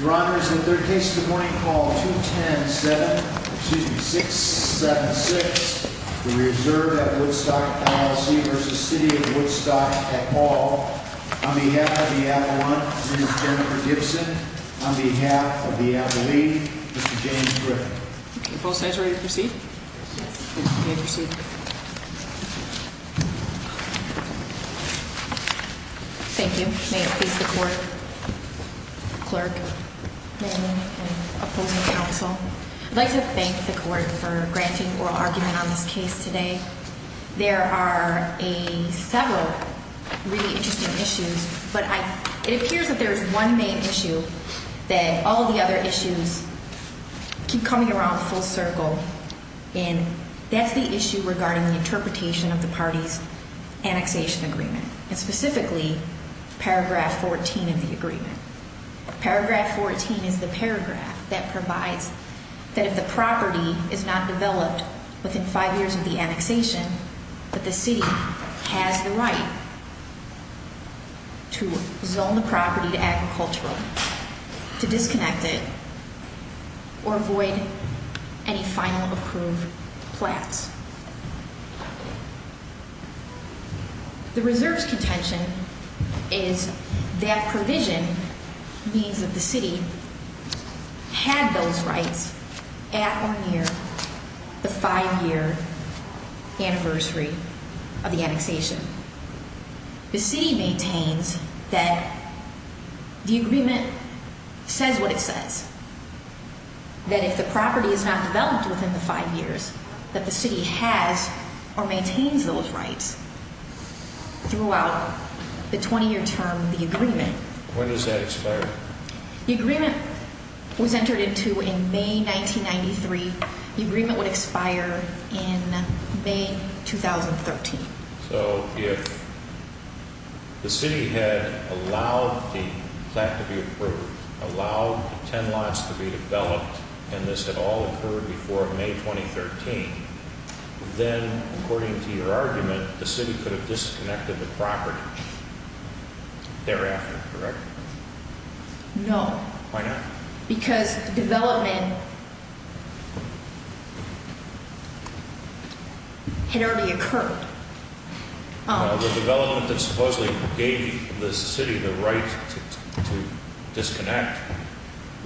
Your Honor, this is the third case of the morning, call 210-7, excuse me, 676, the Reserve at Woodstock, LLC v. City of Woodstock, et al. On behalf of the Avalon, Mrs. Jennifer Gibson, on behalf of the Avaline, Mr. James Griffin. Both sides ready to proceed? Yes. You may proceed. Thank you. May it please the Court. Clerk, Ma'am, and opposing counsel, I'd like to thank the Court for granting oral argument on this case today. There are several really interesting issues, but it appears that there is one main issue that all the other issues keep coming around full circle, and that's the issue regarding the interpretation of the party's annexation agreement, and specifically paragraph 14 of the agreement. Paragraph 14 is the paragraph that provides that if the property is not developed within five years of the annexation, that the city has the right to zone the property to agricultural, to disconnect it, or avoid any final approved flats. The Reserve's contention is that provision means that the city had those rights at or near the five-year anniversary of the annexation. The city maintains that the agreement says what it says, that if the property is not developed within the five years, that the city has or maintains those rights throughout the 20-year term of the agreement. When does that expire? The agreement was entered into in May 1993. The agreement would expire in May 2013. So if the city had allowed the flat to be approved, allowed the ten lots to be developed, and this had all occurred before May 2013, then, according to your argument, the city could have disconnected the property thereafter, correct? No. Why not? Because development had already occurred. The development that supposedly gave the city the right to disconnect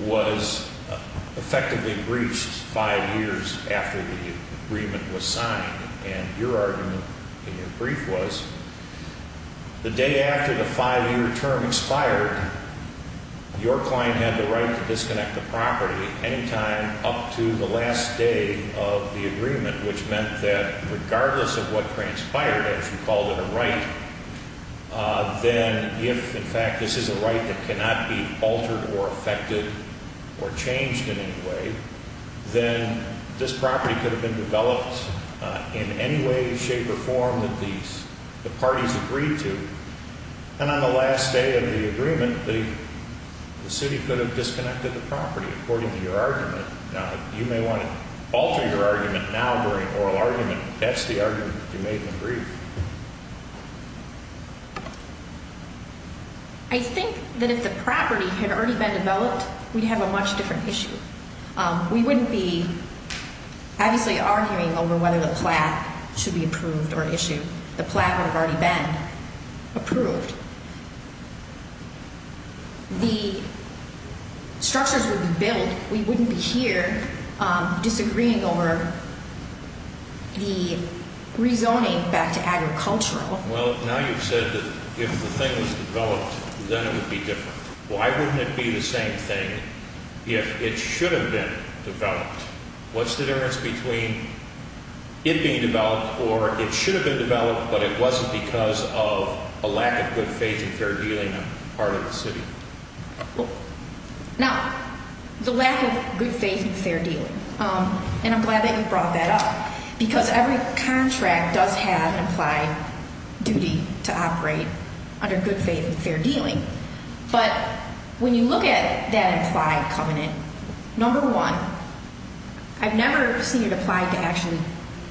was effectively breached five years after the agreement was signed. And your argument in your brief was the day after the five-year term expired, your client had the right to disconnect the property any time up to the last day of the agreement, which meant that regardless of what transpired, as you called it, a right, then if, in fact, this is a right that cannot be altered or affected or changed in any way, then this property could have been developed in any way, shape, or form that the parties agreed to. And on the last day of the agreement, the city could have disconnected the property, according to your argument. Now, you may want to alter your argument now during oral argument, but that's the argument that you made in the brief. I think that if the property had already been developed, we'd have a much different issue. We wouldn't be, obviously, arguing over whether the plaque should be approved or issued. The plaque would have already been approved. The structures would be built. We wouldn't be here disagreeing over the rezoning back to agricultural. Well, now you've said that if the thing was developed, then it would be different. Why wouldn't it be the same thing if it should have been developed? What's the difference between it being developed or it should have been developed, but it wasn't because of a lack of good faith and fair dealing on the part of the city? Now, the lack of good faith and fair dealing, and I'm glad that you brought that up, because every contract does have an implied duty to operate under good faith and fair dealing. But when you look at that implied covenant, number one, I've never seen it applied to actually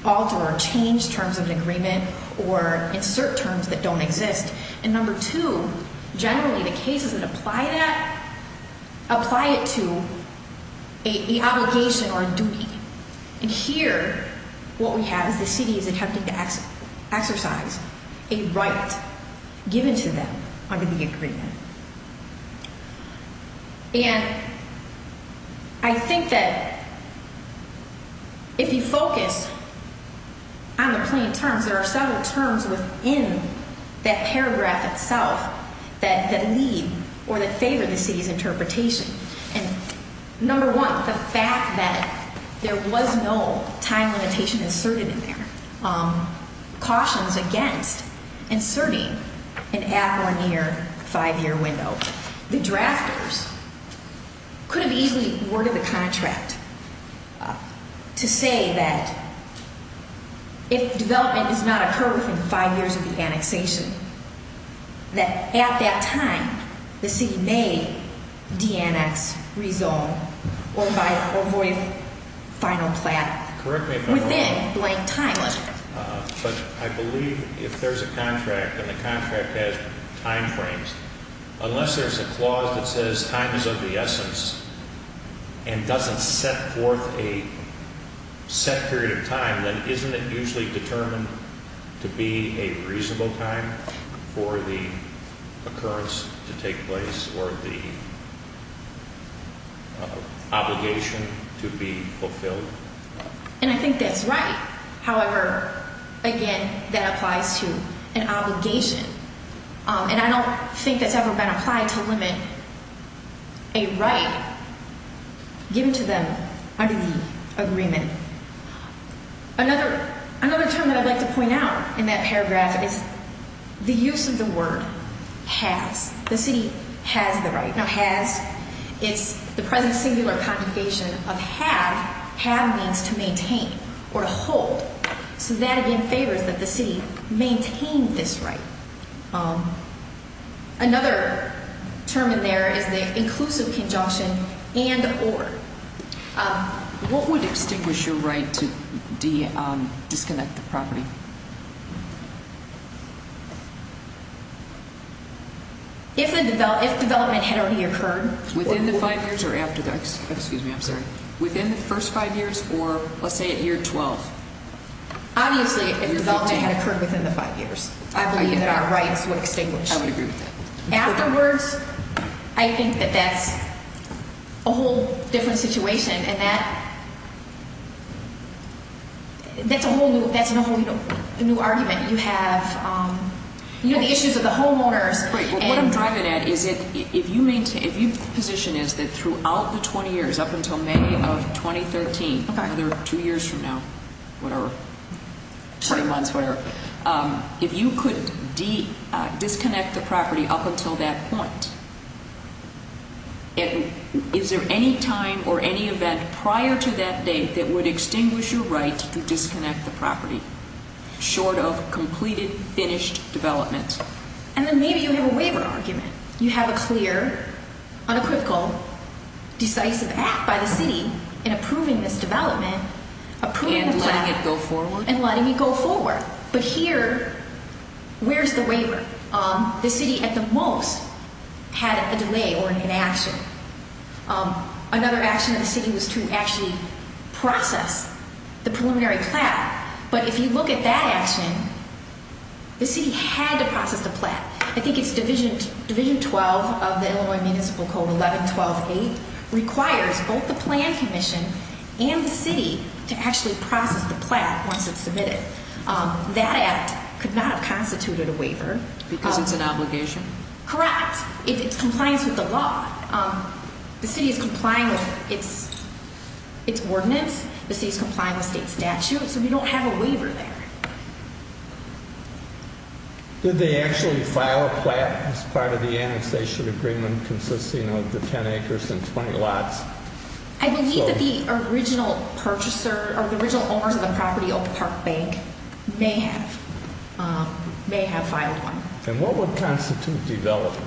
alter or change terms of an agreement or insert terms that don't exist. And number two, generally, the cases that apply that apply it to an obligation or a duty. And here, what we have is the city is attempting to exercise a right given to them under the agreement. And I think that if you focus on the plain terms, there are several terms within that paragraph itself that lead or that favor the city's interpretation. And number one, the fact that there was no time limitation inserted in there, cautions against inserting an at one year, five year window. The drafters could have easily worded the contract to say that if development does not occur within five years of the annexation, that at that time, the city may de-annex, rezone, or avoid final plat within blank time limit. But I believe if there's a contract and the contract has time frames, unless there's a clause that says time is of the essence and doesn't set forth a set period of time, then isn't it usually determined to be a reasonable time for the occurrence to take place or the obligation to be fulfilled? And I think that's right. However, again, that applies to an obligation. And I don't think that's ever been applied to limit a right given to them under the agreement. Another term that I'd like to point out in that paragraph is the use of the word has. The city has the right. Now has, it's the present singular conjugation of have. Have means to maintain or hold. So that again favors that the city maintain this right. Another term in there is the inclusive conjunction and or. What would extinguish your right to disconnect the property? If development had already occurred within the first five years or let's say at year 12? Obviously, if development had occurred within the five years, I believe that our rights would extinguish. I would agree with that. Afterwards, I think that that's a whole different situation and that's a whole new argument. You have the issues of the homeowners. What I'm driving at is if you position is that throughout the 20 years up until May of 2013, another two years from now, whatever, 20 months, whatever, if you could disconnect the property up until that point, is there any time or any event prior to that date that would extinguish your right to disconnect the property short of completed, finished development? And then maybe you have a waiver argument. You have a clear, unequivocal, decisive act by the city in approving this development, approving the plan and letting it go forward. But here, where's the waiver? The city, at the most, had a delay or an inaction. Another action of the city was to actually process the preliminary plat. But if you look at that action, the city had to process the plat. I think it's Division 12 of the Illinois Municipal Code, 11-12-8, requires both the plan commission and the city to actually process the plat once it's submitted. That act could not have constituted a waiver. Because it's an obligation? Correct. It complies with the law. The city is complying with its ordinance. The city is complying with state statute. So we don't have a waiver there. Did they actually file a plat as part of the annexation agreement consisting of the 10 acres and 20 lots? I believe that the original purchaser, or the original owners of the property, Oak Park Bank, may have. May have filed one. And what would constitute development?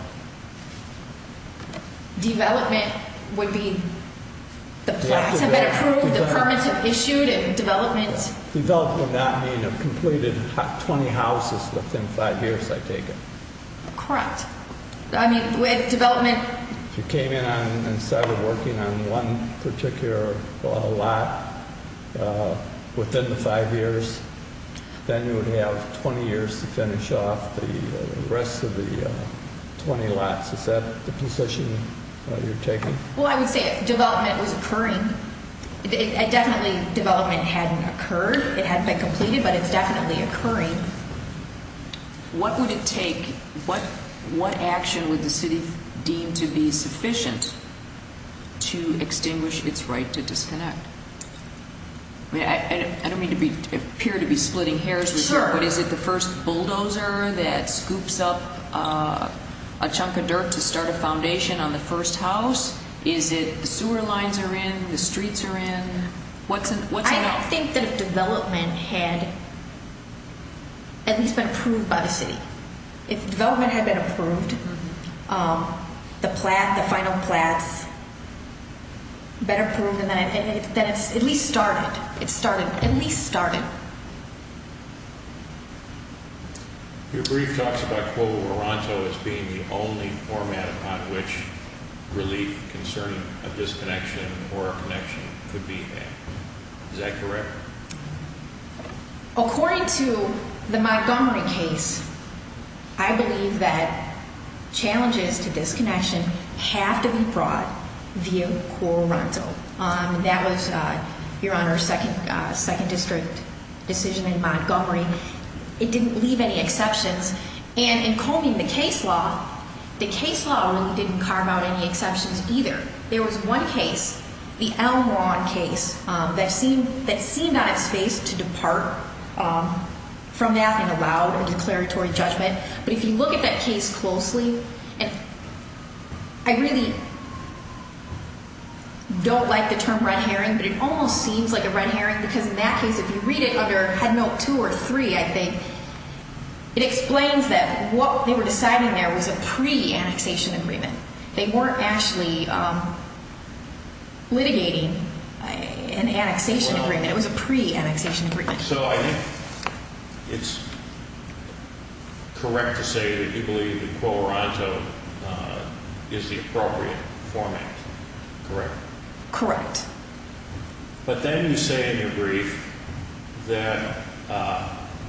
Development would be the plats have been approved, the permits have been issued, and development... Development would not mean a completed 20 houses within 5 years, I take it? Correct. I mean, with development... If you came in and started working on one particular lot within the 5 years, then you would have 20 years to finish off the rest of the 20 lots. Is that the position you're taking? Well, I would say development was occurring. Definitely development hadn't occurred, it hadn't been completed, but it's definitely occurring. What would it take, what action would the city deem to be sufficient to extinguish its right to disconnect? I don't mean to appear to be splitting hairs with you, but is it the first bulldozer that scoops up a chunk of dirt to start a foundation on the first house? Is it the sewer lines are in, the streets are in, what's in it? I think that if development had at least been approved by the city, if development had been approved, the final plats better approved, then it's at least started. It's started. At least started. Your brief talks about Coro Ronto as being the only format upon which relief concerning a disconnection or a connection could be had. Is that correct? According to the Montgomery case, I believe that challenges to disconnection have to be brought via Coro Ronto. That was, Your Honor, second district decision in Montgomery. It didn't leave any exceptions, and in combing the case law, the case law really didn't carve out any exceptions either. There was one case, the Elm Ronde case, that seemed on its face to depart from that and allow a declaratory judgment, but if you look at that case closely, I really don't like the term red herring, but it almost seems like a red herring because in that case, if you read it under Headnote 2 or 3, I think, it explains that what they were deciding there was a pre-annexation agreement. They weren't actually litigating an annexation agreement. It was a pre-annexation agreement. So I think it's correct to say that you believe that Coro Ronto is the appropriate format, correct? Correct. But then you say in your brief that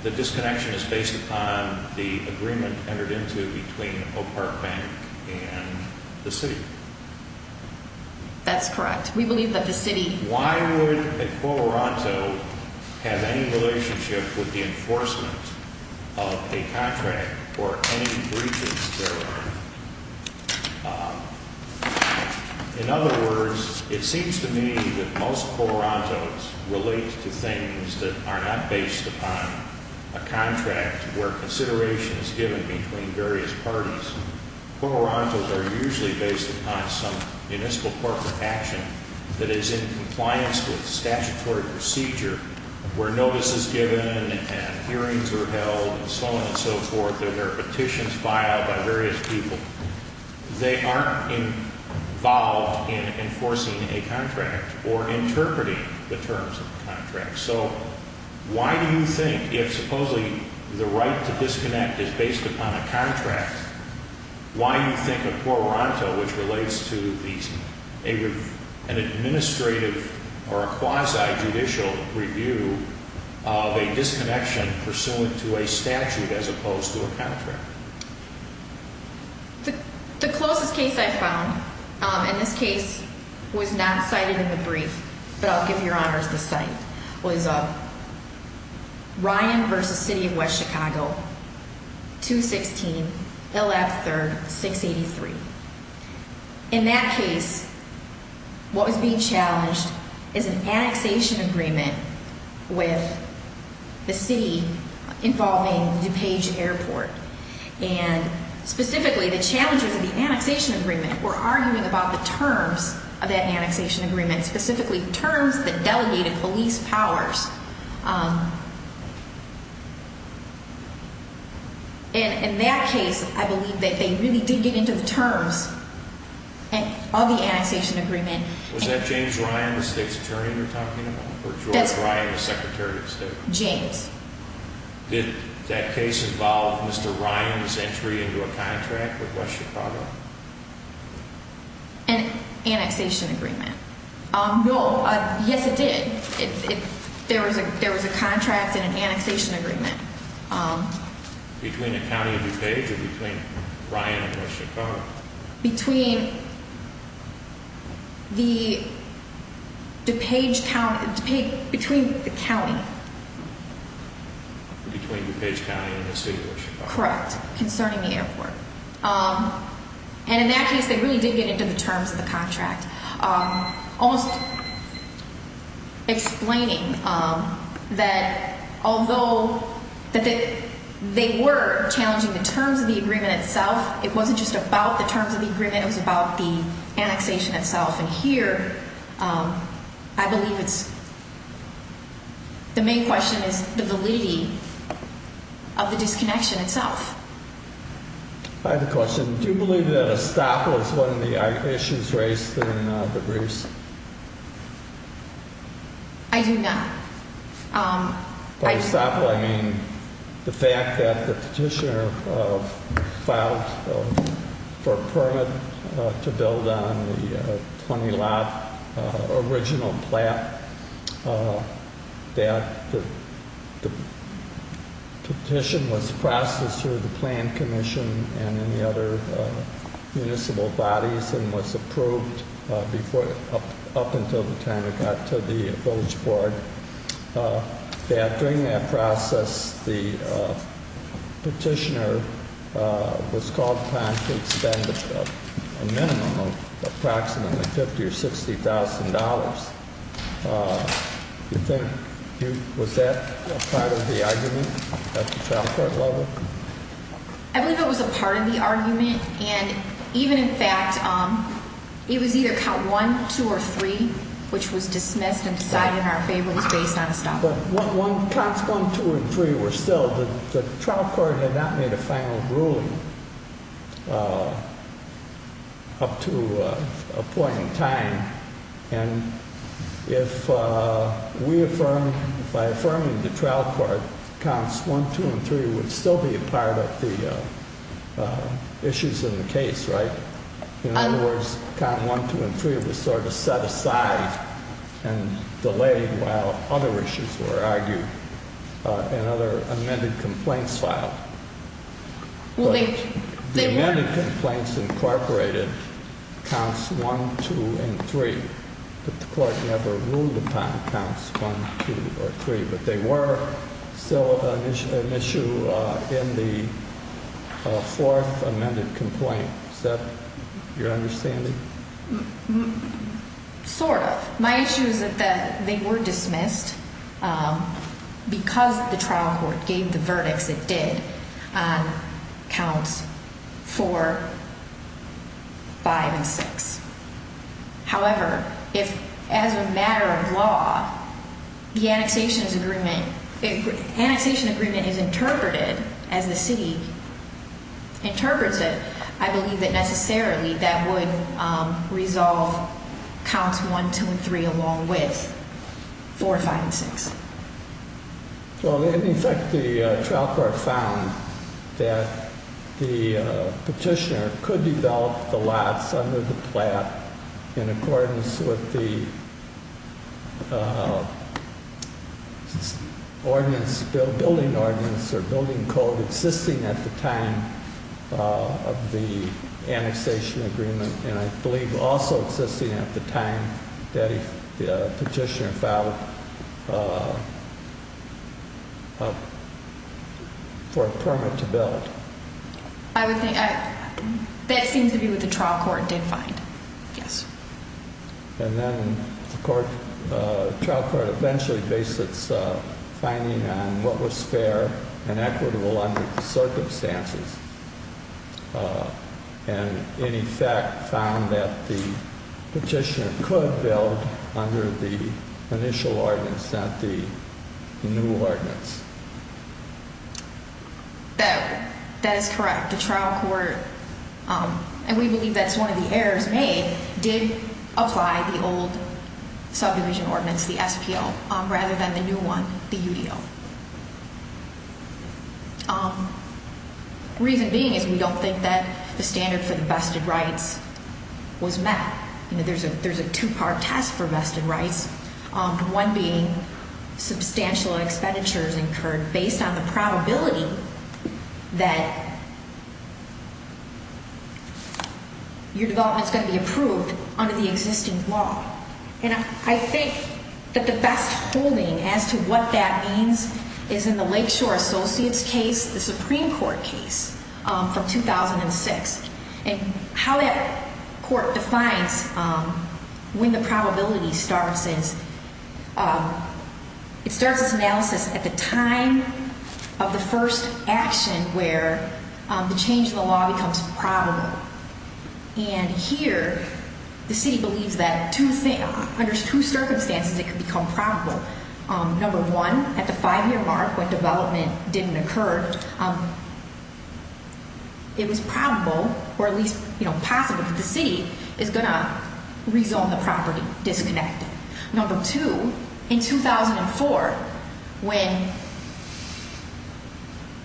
the disconnection is based upon the agreement entered into between Oak Park Bank and the city. That's correct. We believe that the city… with the enforcement of a contract or any breaches thereof. In other words, it seems to me that most Coro Rontos relate to things that are not based upon a contract where consideration is given between various parties. Coro Rontos are usually based upon some municipal corporate action that is in compliance with statutory procedure where notice is given and hearings are held and so on and so forth. There are petitions filed by various people. They aren't involved in enforcing a contract or interpreting the terms of the contract. So why do you think if supposedly the right to disconnect is based upon a contract, why do you think a Coro Ronto which relates to an administrative or a quasi-judicial review of a disconnection pursuant to a statute as opposed to a contract? The closest case I found, and this case was not cited in the brief, but I'll give your honors the cite, was Ryan v. City of West Chicago, 216 L.F. 3rd, 683. In that case, what was being challenged is an annexation agreement with the city involving DuPage Airport. And specifically, the challenges of the annexation agreement were arguing about the terms of that annexation agreement, specifically terms that delegated police powers. And in that case, I believe that they really didn't get into the terms of the annexation agreement. Was that James Ryan, the state's attorney you're talking about, or George Ryan, the Secretary of State? James. Did that case involve Mr. Ryan's entry into a contract with West Chicago? An annexation agreement. No. Yes, it did. There was a contract and an annexation agreement. Between the county of DuPage or between Ryan and West Chicago? Between the DuPage county, between the county. Between DuPage County and the state of West Chicago. Correct, concerning the airport. Almost explaining that although they were challenging the terms of the agreement itself, it wasn't just about the terms of the agreement, it was about the annexation itself. And here, I believe it's, the main question is the validity of the disconnection itself. I have a question. Do you believe that Estoppel is one of the issues raised in the briefs? I do not. By Estoppel, I mean the fact that the petitioner filed for a permit to build on the 20 lot original plat. That the petition was processed through the plan commission and any other municipal bodies and was approved up until the time it got to the village board. During that process, the petitioner was called upon to spend a minimum of approximately $50,000 or $60,000. Was that part of the argument at the child court level? I believe it was a part of the argument, and even in fact, it was either count one, two, or three, which was dismissed and decided in our favor. It was based on Estoppel. Counts one, two, and three were still, the trial court had not made a final ruling up to a point in time. And if we affirm, by affirming the trial court, counts one, two, and three would still be a part of the issues in the case, right? In other words, count one, two, and three was sort of set aside and delayed while other issues were argued and other amended complaints filed. The amended complaints incorporated counts one, two, and three, but the court never ruled upon counts one, two, or three. But they were still an issue in the fourth amended complaint. Is that your understanding? Sort of. My issue is that they were dismissed because the trial court gave the verdicts it did on counts four, five, and six. However, if as a matter of law, the annexation agreement is interpreted as the city interprets it, I believe that necessarily that would resolve counts one, two, and three along with four, five, and six. In fact, the trial court found that the petitioner could develop the lots under the plat in accordance with the building ordinance or building code existing at the time of the annexation agreement. And I believe also existing at the time that the petitioner filed for a permit to build. That seems to be what the trial court did find, yes. And then the trial court eventually based its finding on what was fair and equitable under the circumstances and, in effect, found that the petitioner could build under the initial ordinance, not the new ordinance. That is correct. The trial court, and we believe that's one of the errors made, did apply the old subdivision ordinance, the SPO, rather than the new one, the UDO. Reason being is we don't think that the standard for the vested rights was met. There's a two-part test for vested rights, one being substantial expenditures incurred based on the probability that your development is going to be approved under the existing law. And I think that the best holding as to what that means is in the Lakeshore Associates case, the Supreme Court case from 2006. And how that court defines when the probability starts is it starts its analysis at the time of the first action where the change in the law becomes probable. And here the city believes that under two circumstances it could become probable. Number one, at the five-year mark when development didn't occur, it was probable, or at least possible, that the city is going to rezone the property, disconnect it. Number two, in 2004, when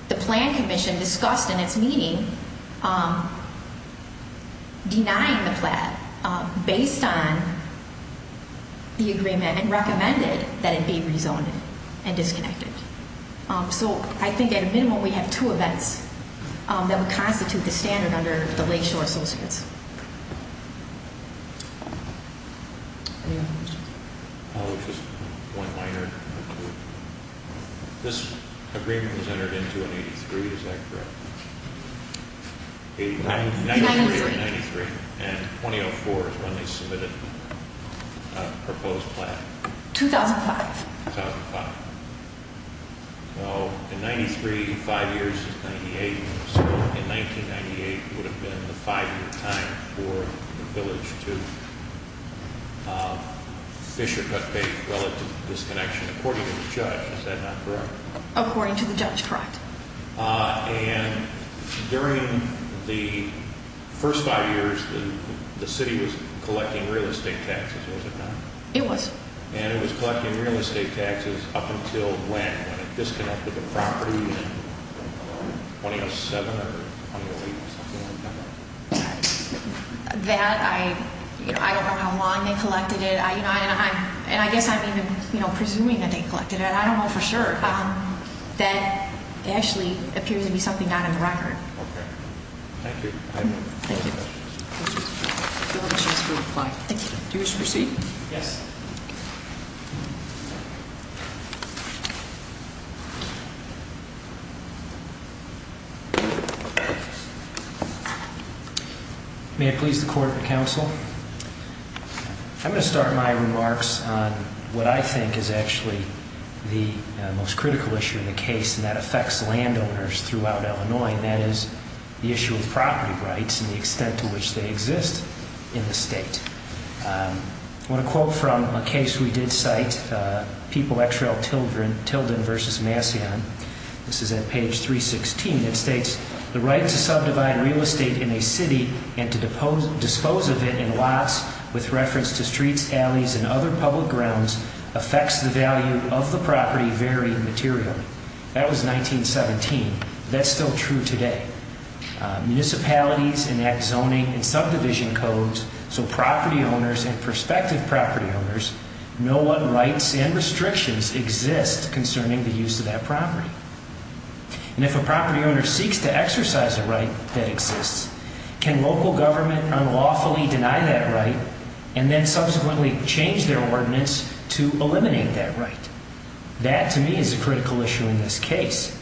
the plan commission discussed in its meeting denying the plan based on the agreement and recommended that it be rezoned and disconnected. So I think at a minimum we have two events that would constitute the standard under the Lakeshore Associates. Just one minor. This agreement was entered into in 83, is that correct? 93. 93, and 2004 is when they submitted a proposed plan. 2005. 2005. So in 93, five years is 98. So in 1998 would have been the five-year time for the village to fish or cut base relative to disconnection according to the judge. Is that not correct? According to the judge, correct. And during the first five years the city was collecting real estate taxes, was it not? It was. And it was collecting real estate taxes up until when? When it disconnected the property in 2007 or 2008 or something like that? That, I don't know how long they collected it. And I guess I'm even presuming that they collected it. I don't know for sure. That actually appears to be something not in the record. Okay. Thank you. Thank you. Thank you. Do you wish to proceed? Yes. Thank you. May I please the Court and Counsel? I'm going to start my remarks on what I think is actually the most critical issue in the case, and that affects landowners throughout Illinois, and that is the issue of property rights and the extent to which they exist in the state. I want to quote from a case we did cite, People x Rel. Tilden v. Massillon. This is at page 316. It states, That was 1917. That's still true today. If property owners and prospective property owners know what rights and restrictions exist concerning the use of that property, and if a property owner seeks to exercise a right that exists, can local government unlawfully deny that right and then subsequently change their ordinance to eliminate that right? That, to me, is a critical issue in this case,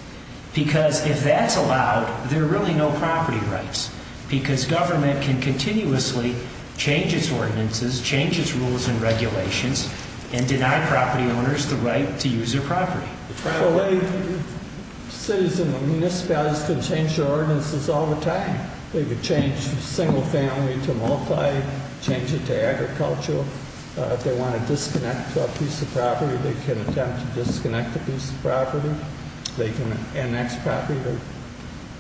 because if that's allowed, there are really no property rights, because government can continuously change its ordinances, change its rules and regulations, and deny property owners the right to use their property. Cities and municipalities can change their ordinances all the time. They can change single family to multi, change it to agricultural. If they want to disconnect a piece of property, they can attempt to disconnect a piece of property. They can annex property.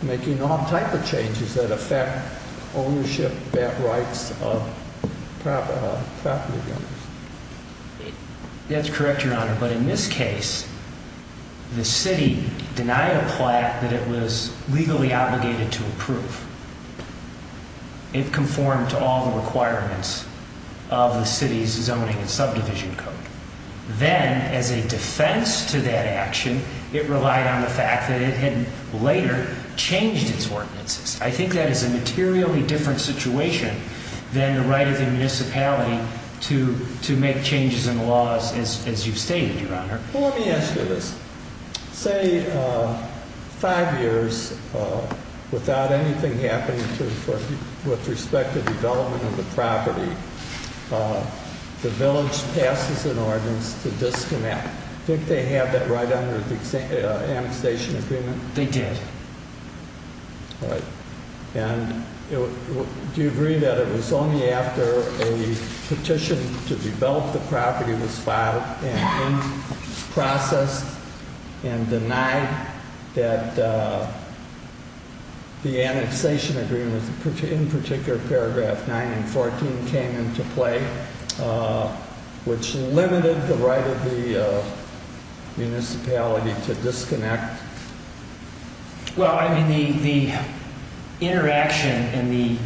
Making all type of changes that affect ownership rights of property owners. That's correct, Your Honor. But in this case, the city denied a plaque that it was legally obligated to approve. It conformed to all the requirements of the city's zoning and subdivision code. Then, as a defense to that action, it relied on the fact that it had later changed its ordinances. I think that is a materially different situation than the right of the municipality to make changes in the laws, as you've stated, Your Honor. Well, let me ask you this. Say, five years without anything happening with respect to development of the property, the village passes an ordinance to disconnect. Did they have that right under the annexation agreement? They did. All right. Do you agree that it was only after a petition to develop the property was filed and processed and denied that the annexation agreement, in particular paragraph 9 and 14, came into play, which limited the right of the municipality to disconnect? Well, I mean, the interaction and the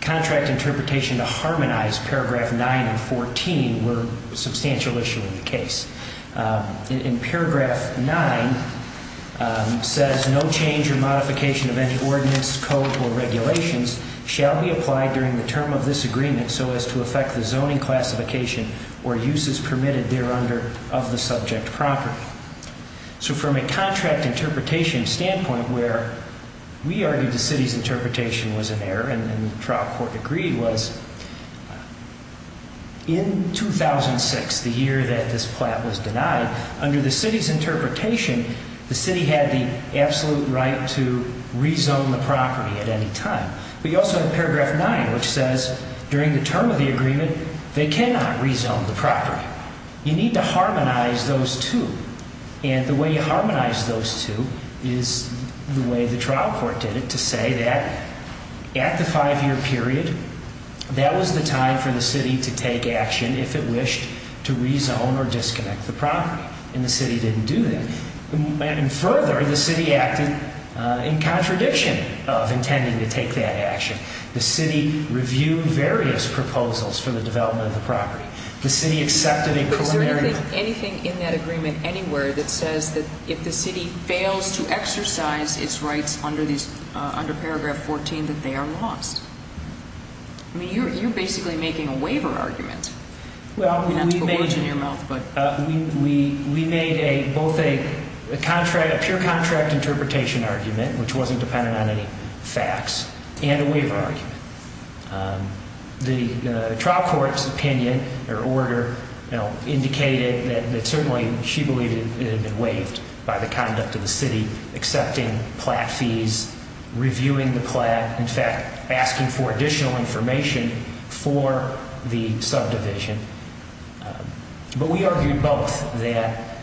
contract interpretation to harmonize paragraph 9 and 14 were a substantial issue in the case. In paragraph 9, it says, As no change or modification of any ordinance, code, or regulations shall be applied during the term of this agreement so as to affect the zoning classification or uses permitted thereunder of the subject property. So from a contract interpretation standpoint where we argued the city's interpretation was an error and the trial court agreed was, In 2006, the year that this plot was denied, under the city's interpretation, the city had the absolute right to rezone the property at any time. But you also have paragraph 9, which says, During the term of the agreement, they cannot rezone the property. You need to harmonize those two. And the way you harmonize those two is the way the trial court did it, to say that at the five-year period, that was the time for the city to take action if it wished to rezone or disconnect the property. And the city didn't do that. And further, the city acted in contradiction of intending to take that action. The city reviewed various proposals for the development of the property. The city accepted a preliminary I don't think anything in that agreement anywhere that says that if the city fails to exercise its rights under paragraph 14, that they are lost. I mean, you're basically making a waiver argument. Well, we made a both a contract, a pure contract interpretation argument, which wasn't dependent on any facts, and a waiver argument. The trial court's opinion or order indicated that certainly she believed it had been waived by the conduct of the city, accepting plat fees, reviewing the plat, in fact, asking for additional information for the subdivision. But we argued both that.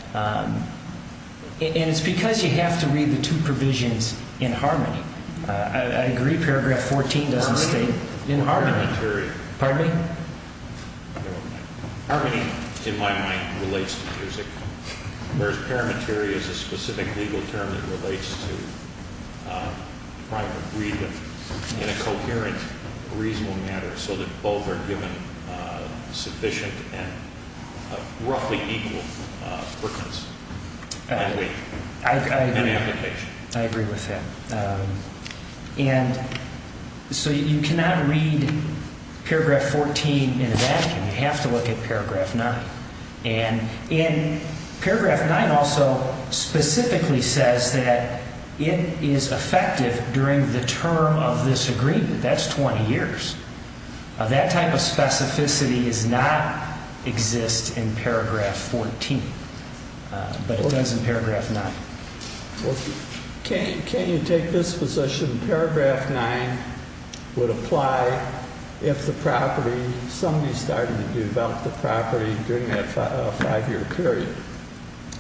And it's because you have to read the two provisions in harmony. I agree. Paragraph 14 doesn't stay in harmony. Pardon me? Harmony, in my mind, relates to music, whereas parametery is a specific legal term that relates to trying to read them in a coherent, reasonable manner so that both are given sufficient and roughly equal perkins. I agree with that. And so you cannot read paragraph 14 in a vacuum. You have to look at paragraph 9. And in paragraph 9 also specifically says that it is effective during the term of this agreement. That's 20 years. That type of specificity does not exist in paragraph 14. But it does in paragraph 9. Can you take this position? Paragraph 9 would apply if the property, somebody started to develop the property during that five-year period.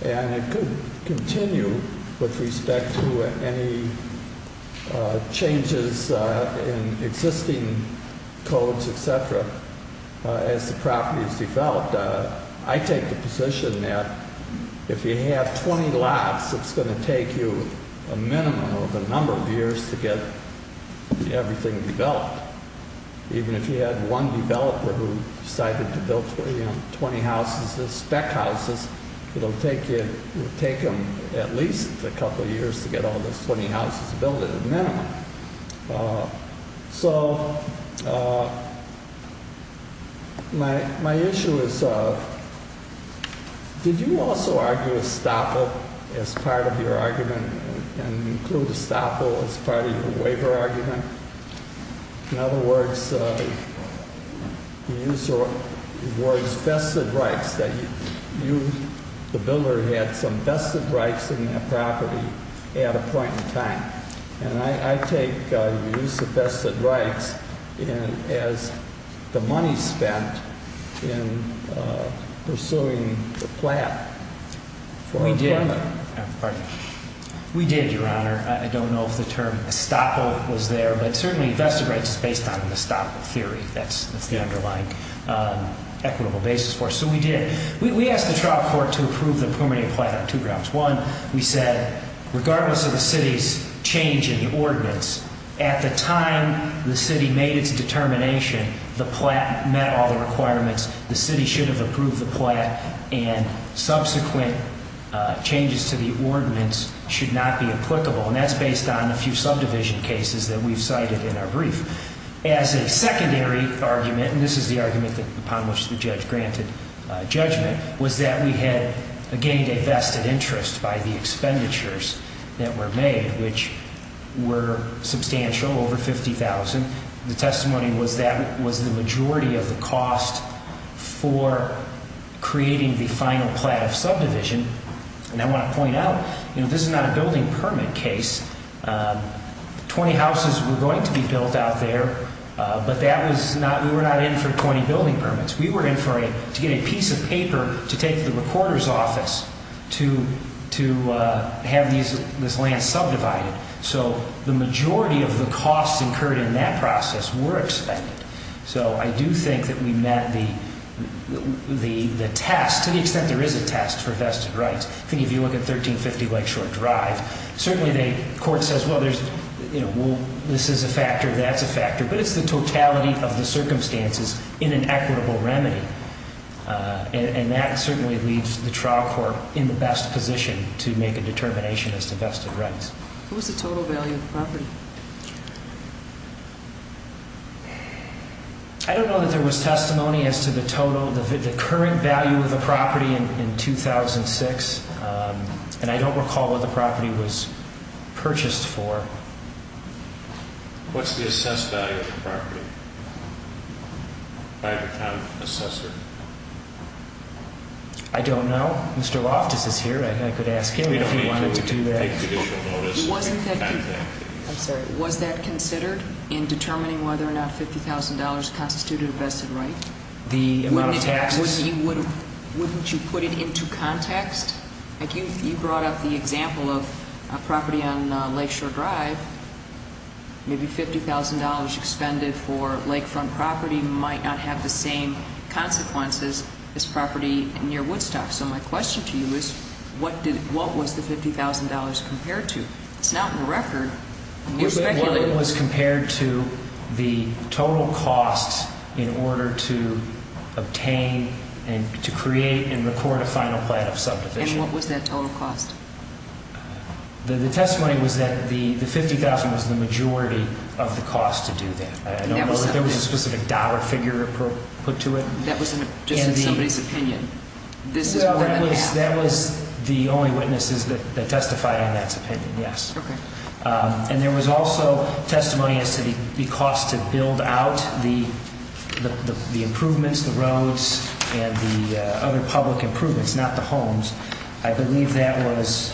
And it could continue with respect to any changes in existing codes, et cetera, as the property is developed. I take the position that if you have 20 lots, it's going to take you a minimum of a number of years to get everything developed. Even if you had one developer who decided to build 20 houses, the spec houses, it will take him at least a couple of years to get all those 20 houses built at a minimum. So my issue is, did you also argue estoppel as part of your argument and include estoppel as part of your waiver argument? In other words, you used the words vested rights, that you, the builder, had some vested rights in that property at a point in time. And I take the use of vested rights as the money spent in pursuing the plat for employment. We did, Your Honor. I don't know if the term estoppel was there, but certainly vested rights is based on the estoppel theory. That's the underlying equitable basis for it. So we did. We asked the trial court to approve the permanent plat on two grounds. One, we said, regardless of the city's change in the ordinance, at the time the city made its determination, the plat met all the requirements. The city should have approved the plat, and subsequent changes to the ordinance should not be applicable. And that's based on a few subdivision cases that we've cited in our brief. As a secondary argument, and this is the argument upon which the judge granted judgment, was that we had, again, divested interest by the expenditures that were made, which were substantial, over $50,000. The testimony was that was the majority of the cost for creating the final plat of subdivision. And I want to point out, this is not a building permit case. 20 houses were going to be built out there, but we were not in for 20 building permits. We were in to get a piece of paper to take to the recorder's office to have this land subdivided. So the majority of the costs incurred in that process were expended. So I do think that we met the test, to the extent there is a test for vested rights. I think if you look at 1350 Lakeshore Drive, certainly the court says, well, this is a factor, that's a factor. But it's the totality of the circumstances in an equitable remedy. And that certainly leaves the trial court in the best position to make a determination as to vested rights. What was the total value of the property? I don't know that there was testimony as to the total, the current value of the property in 2006. And I don't recall what the property was purchased for. What's the assessed value of the property by the town assessor? I don't know. Mr. Loftus is here. I could ask him if he wanted to do that. I'm sorry. Was that considered in determining whether or not $50,000 constituted a vested right? The amount of taxes? Wouldn't you put it into context? You brought up the example of a property on Lakeshore Drive. Maybe $50,000 expended for lakefront property might not have the same consequences as property near Woodstock. So my question to you is, what was the $50,000 compared to? It's not in the record. It was compared to the total cost in order to obtain and to create and record a final plan of subdivision. And what was that total cost? The testimony was that the $50,000 was the majority of the cost to do that. There was a specific dollar figure put to it. That was just in somebody's opinion? That was the only witnesses that testified on that opinion, yes. And there was also testimony as to the cost to build out the improvements, the roads, and the other public improvements, not the homes. I believe that was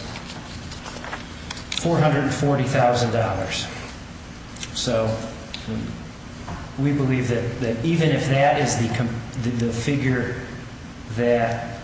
$440,000. So we believe that even if that is the figure that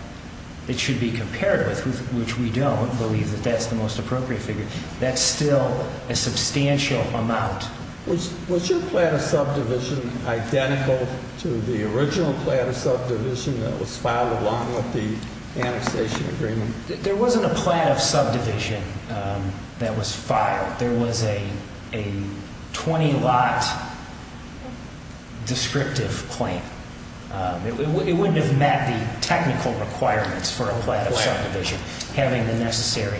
it should be compared with, which we don't believe that that's the most appropriate figure, that's still a substantial amount. Was your plan of subdivision identical to the original plan of subdivision that was filed along with the annexation agreement? There wasn't a plan of subdivision that was filed. There was a 20-lot descriptive claim. It wouldn't have met the technical requirements for a plan of subdivision having the necessary.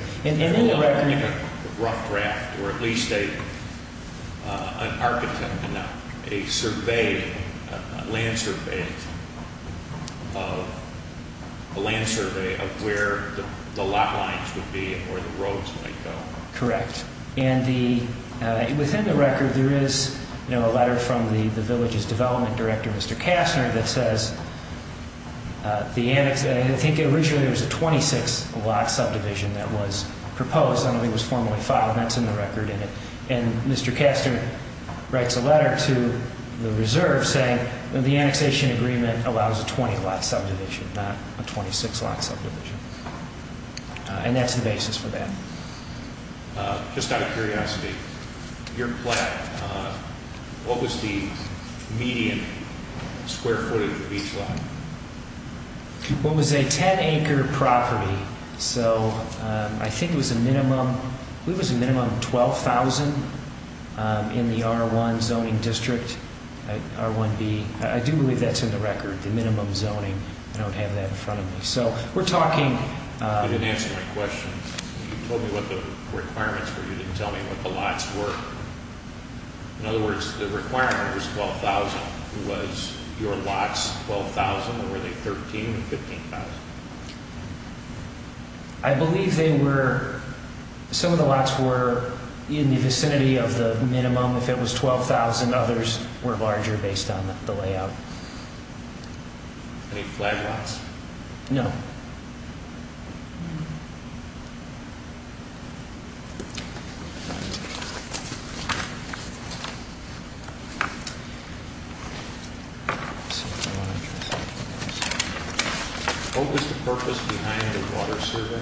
Rough draft or at least an architect, a survey, a land survey of where the lot lines would be and where the roads might go. Correct. And within the record, there is a letter from the village's development director, Mr. Kastner, that says the annexation, I think originally it was a 26-lot subdivision that was proposed. I don't know if it was formally filed, and that's in the record. And Mr. Kastner writes a letter to the reserve saying the annexation agreement allows a 20-lot subdivision, not a 26-lot subdivision. And that's the basis for that. Just out of curiosity, your plan, what was the median square footage of each lot? Well, it was a 10-acre property, so I think it was a minimum, I believe it was a minimum of 12,000 in the R1 zoning district, R1B. I do believe that's in the record, the minimum zoning. I don't have that in front of me. You didn't answer my question. You told me what the requirements were. You didn't tell me what the lots were. In other words, the requirement was 12,000. Was your lots 12,000, or were they 13,000 or 15,000? I believe some of the lots were in the vicinity of the minimum. If it was 12,000, others were larger based on the layout. Any flag lots? No. What was the purpose behind the water survey? Was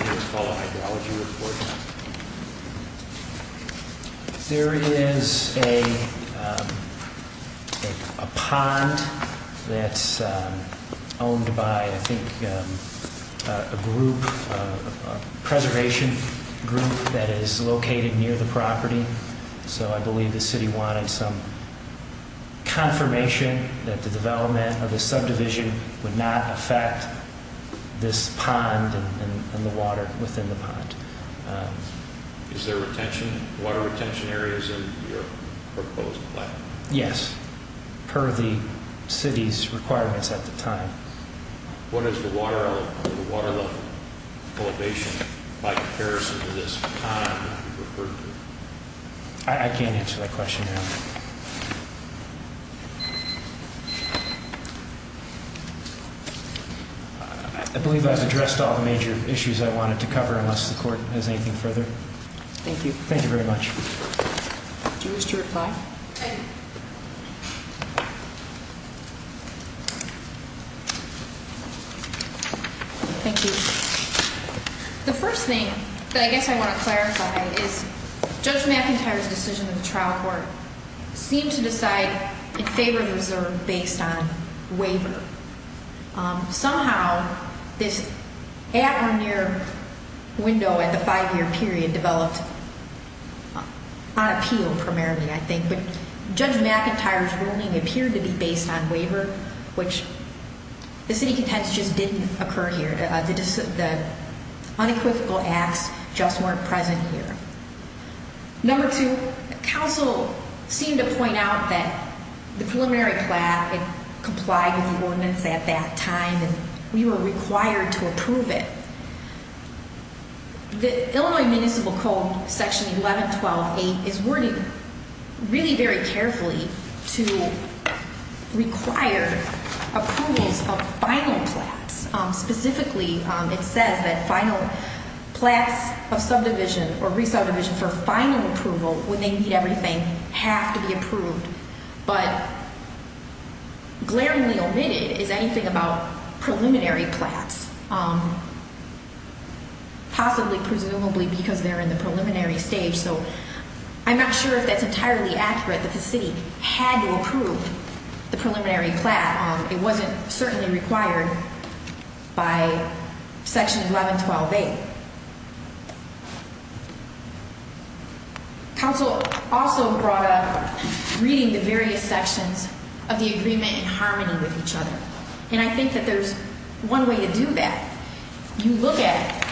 it called a hydrology report? There is a pond that's owned by, I think, a group, a preservation group that is located near the property. So I believe the city wanted some confirmation that the development of the subdivision would not affect this pond and the water within the pond. Is there water retention areas in your proposed plan? Yes, per the city's requirements at the time. What is the water level elevation by comparison to this pond that you referred to? I can't answer that question now. I believe I've addressed all the major issues I wanted to cover, unless the court has anything further. Thank you. Thank you very much. Did you lose your reply? I did. Thank you. The first thing that I guess I want to clarify is Judge McIntyre's decision in the trial court, seemed to decide in favor of the reserve based on waiver. Somehow, this at or near window at the five-year period developed on appeal primarily, I think. But Judge McIntyre's ruling appeared to be based on waiver, which the city contends just didn't occur here. The unequivocal acts just weren't present here. Number two, counsel seemed to point out that the preliminary plan complied with the ordinance at that time, and we were required to approve it. The Illinois Municipal Code, Section 1112.8, is wording really very carefully to require approvals of final plans. Specifically, it says that final plans of subdivision or resubdivision for final approval, when they meet everything, have to be approved. But glaringly omitted is anything about preliminary plans, possibly presumably because they're in the preliminary stage. So I'm not sure if that's entirely accurate, that the city had to approve the preliminary plan. It wasn't certainly required by Section 1112.8. Counsel also brought up reading the various sections of the agreement in harmony with each other. And I think that there's one way to do that. You look at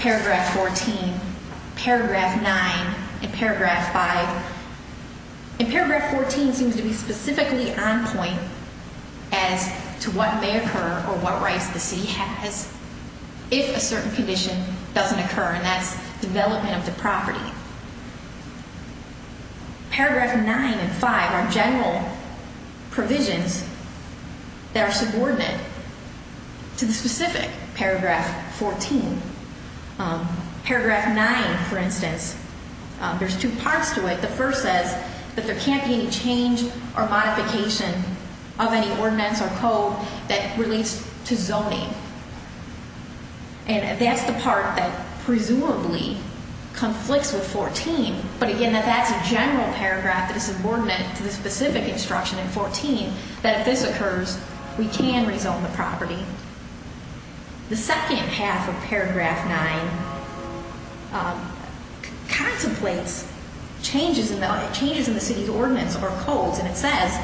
Paragraph 14, Paragraph 9, and Paragraph 5. And Paragraph 14 seems to be specifically on point as to what may occur or what rights the city has if a certain condition doesn't occur, and that's development of the property. Paragraph 9 and 5 are general provisions that are subordinate to the specific Paragraph 14. Paragraph 9, for instance, there's two parts to it. The first says that there can't be any change or modification of any ordinance or code that relates to zoning. And that's the part that presumably conflicts with 14. But again, that that's a general paragraph that is subordinate to the specific instruction in 14, that if this occurs, we can rezone the property. The second half of Paragraph 9 contemplates changes in the city's ordinance or codes. And it says,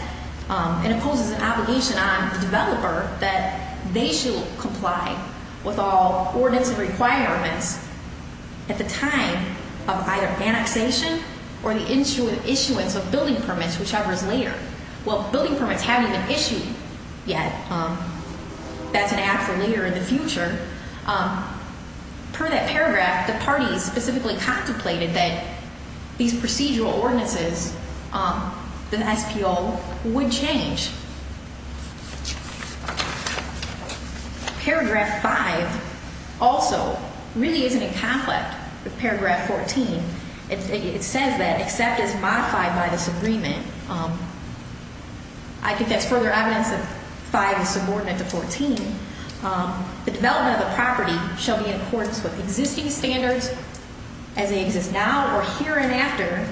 and it poses an obligation on the developer that they should comply with all ordinance and requirements at the time of either annexation or the issuance of building permits, whichever is later. Well, building permits haven't been issued yet. That's an app for later in the future. Per that paragraph, the parties specifically contemplated that these procedural ordinances, the SPO, would change. Paragraph 5 also really isn't in conflict with Paragraph 14. It says that except as modified by this agreement, I think that's further evidence that 5 is subordinate to 14. The development of the property shall be in accordance with existing standards as they exist now or here and after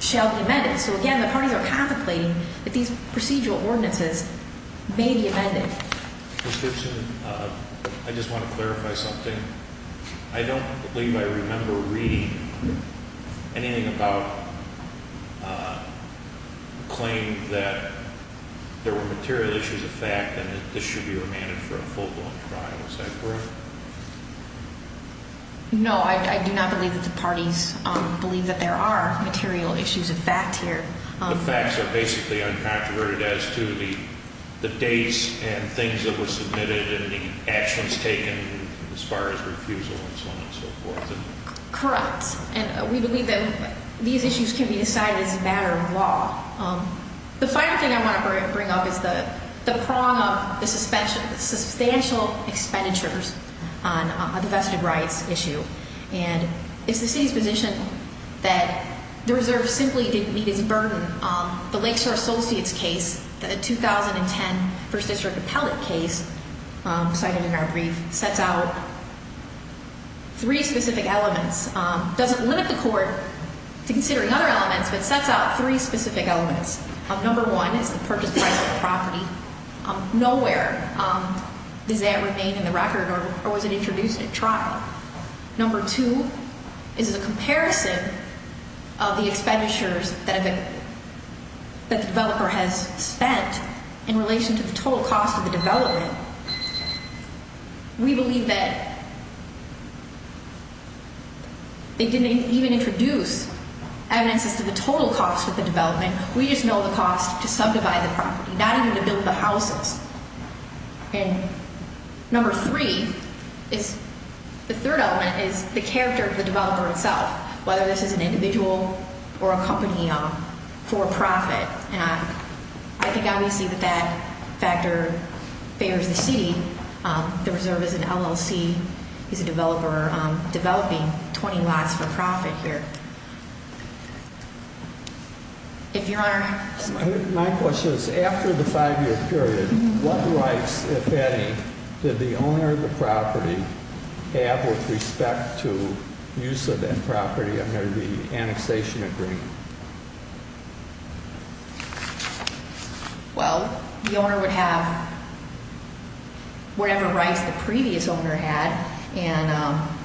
shall be amended. So again, the parties are contemplating that these procedural ordinances may be amended. Ms. Gibson, I just want to clarify something. I don't believe I remember reading anything about a claim that there were material issues of fact and that this should be remanded for a full-blown trial. Is that correct? No, I do not believe that the parties believe that there are material issues of fact here. The facts are basically uncontroverted as to the dates and things that were submitted and the actions taken as far as refusal and so on and so forth. Correct. And we believe that these issues can be decided as a matter of law. The final thing I want to bring up is the prong of the substantial expenditures on the vested rights issue. And it's the city's position that the reserve simply didn't meet its burden. The Lakeshore Associates case, the 2010 First District appellate case cited in our brief, sets out three specific elements. It doesn't limit the court to considering other elements, but it sets out three specific elements. Number one is the purchase price of the property. Nowhere does that remain in the record or was it introduced at trial. Number two is a comparison of the expenditures that the developer has spent in relation to the total cost of the development. We believe that they didn't even introduce evidence as to the total cost of the development. We just know the cost to subdivide the property, not even to build the houses. And number three is the third element is the character of the developer itself, whether this is an individual or a company for profit. And I think obviously that that factor favors the city. The reserve is an LLC. He's a developer developing 20 lots for profit here. My question is, after the five-year period, what rights, if any, did the owner of the property have with respect to use of that property under the annexation agreement? Well, the owner would have whatever rights the previous owner had.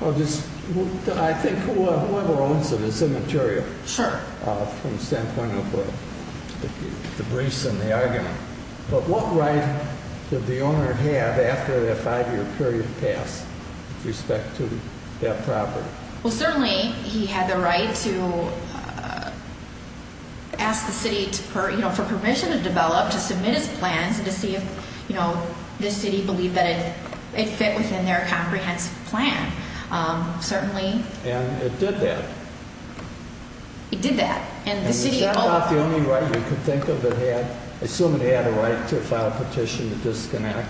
I think whoever owns it is immaterial from the standpoint of the briefs and the argument. But what right did the owner have after that five-year period passed with respect to that property? Well, certainly he had the right to ask the city for permission to develop, to submit his plans, and to see if the city believed that it fit within their comprehensive plan. And it did that? It did that. And it's not the only right you could think of. Assume it had a right to file a petition to disconnect,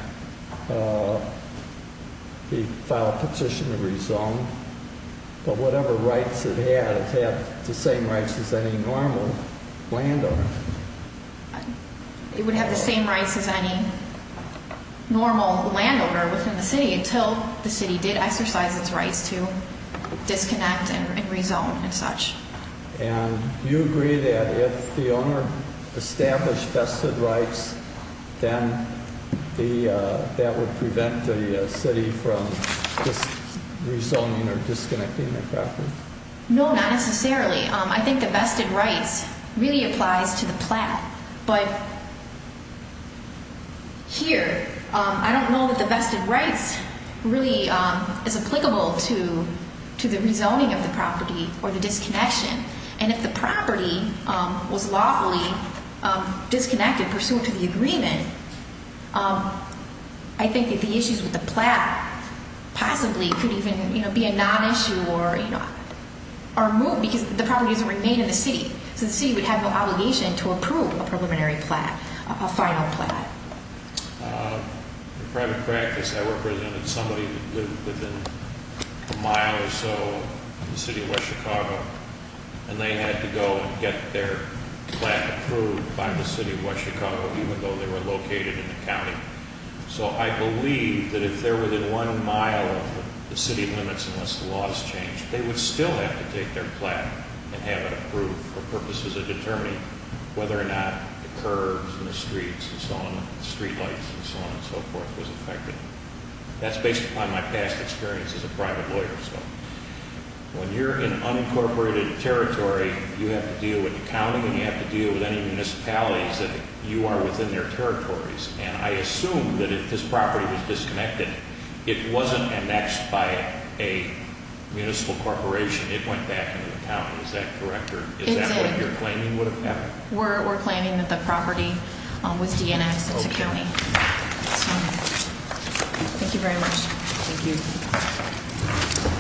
file a petition to rezone. But whatever rights it had, it had the same rights as any normal landowner. It would have the same rights as any normal landowner within the city until the city did exercise its rights to disconnect and rezone and such. And you agree that if the owner established vested rights, then that would prevent the city from rezoning or disconnecting their property? No, not necessarily. I think the vested rights really applies to the plat. But here, I don't know that the vested rights really is applicable to the rezoning of the property or the disconnection. And if the property was lawfully disconnected pursuant to the agreement, I think that the issues with the plat possibly could even be a non-issue or removed because the property doesn't remain in the city. So the city would have no obligation to approve a preliminary plat, a final plat. In private practice, I represented somebody that lived within a mile or so of the city of West Chicago. And they had to go and get their plat approved by the city of West Chicago, even though they were located in the county. So I believe that if they're within one mile of the city limits, unless the laws change, they would still have to take their plat and have it approved for purposes of determining whether or not the curbs and the streets and so on, street lights and so on and so forth was affected. That's based upon my past experience as a private lawyer. When you're in unincorporated territory, you have to deal with the county and you have to deal with any municipalities that you are within their territories. And I assume that if this property was disconnected, it wasn't annexed by a municipal corporation. It went back into the county. Is that correct? Is that what you're claiming would have happened? We're claiming that the property was DNX. It's a county. Thank you very much. Thank you. Thank you.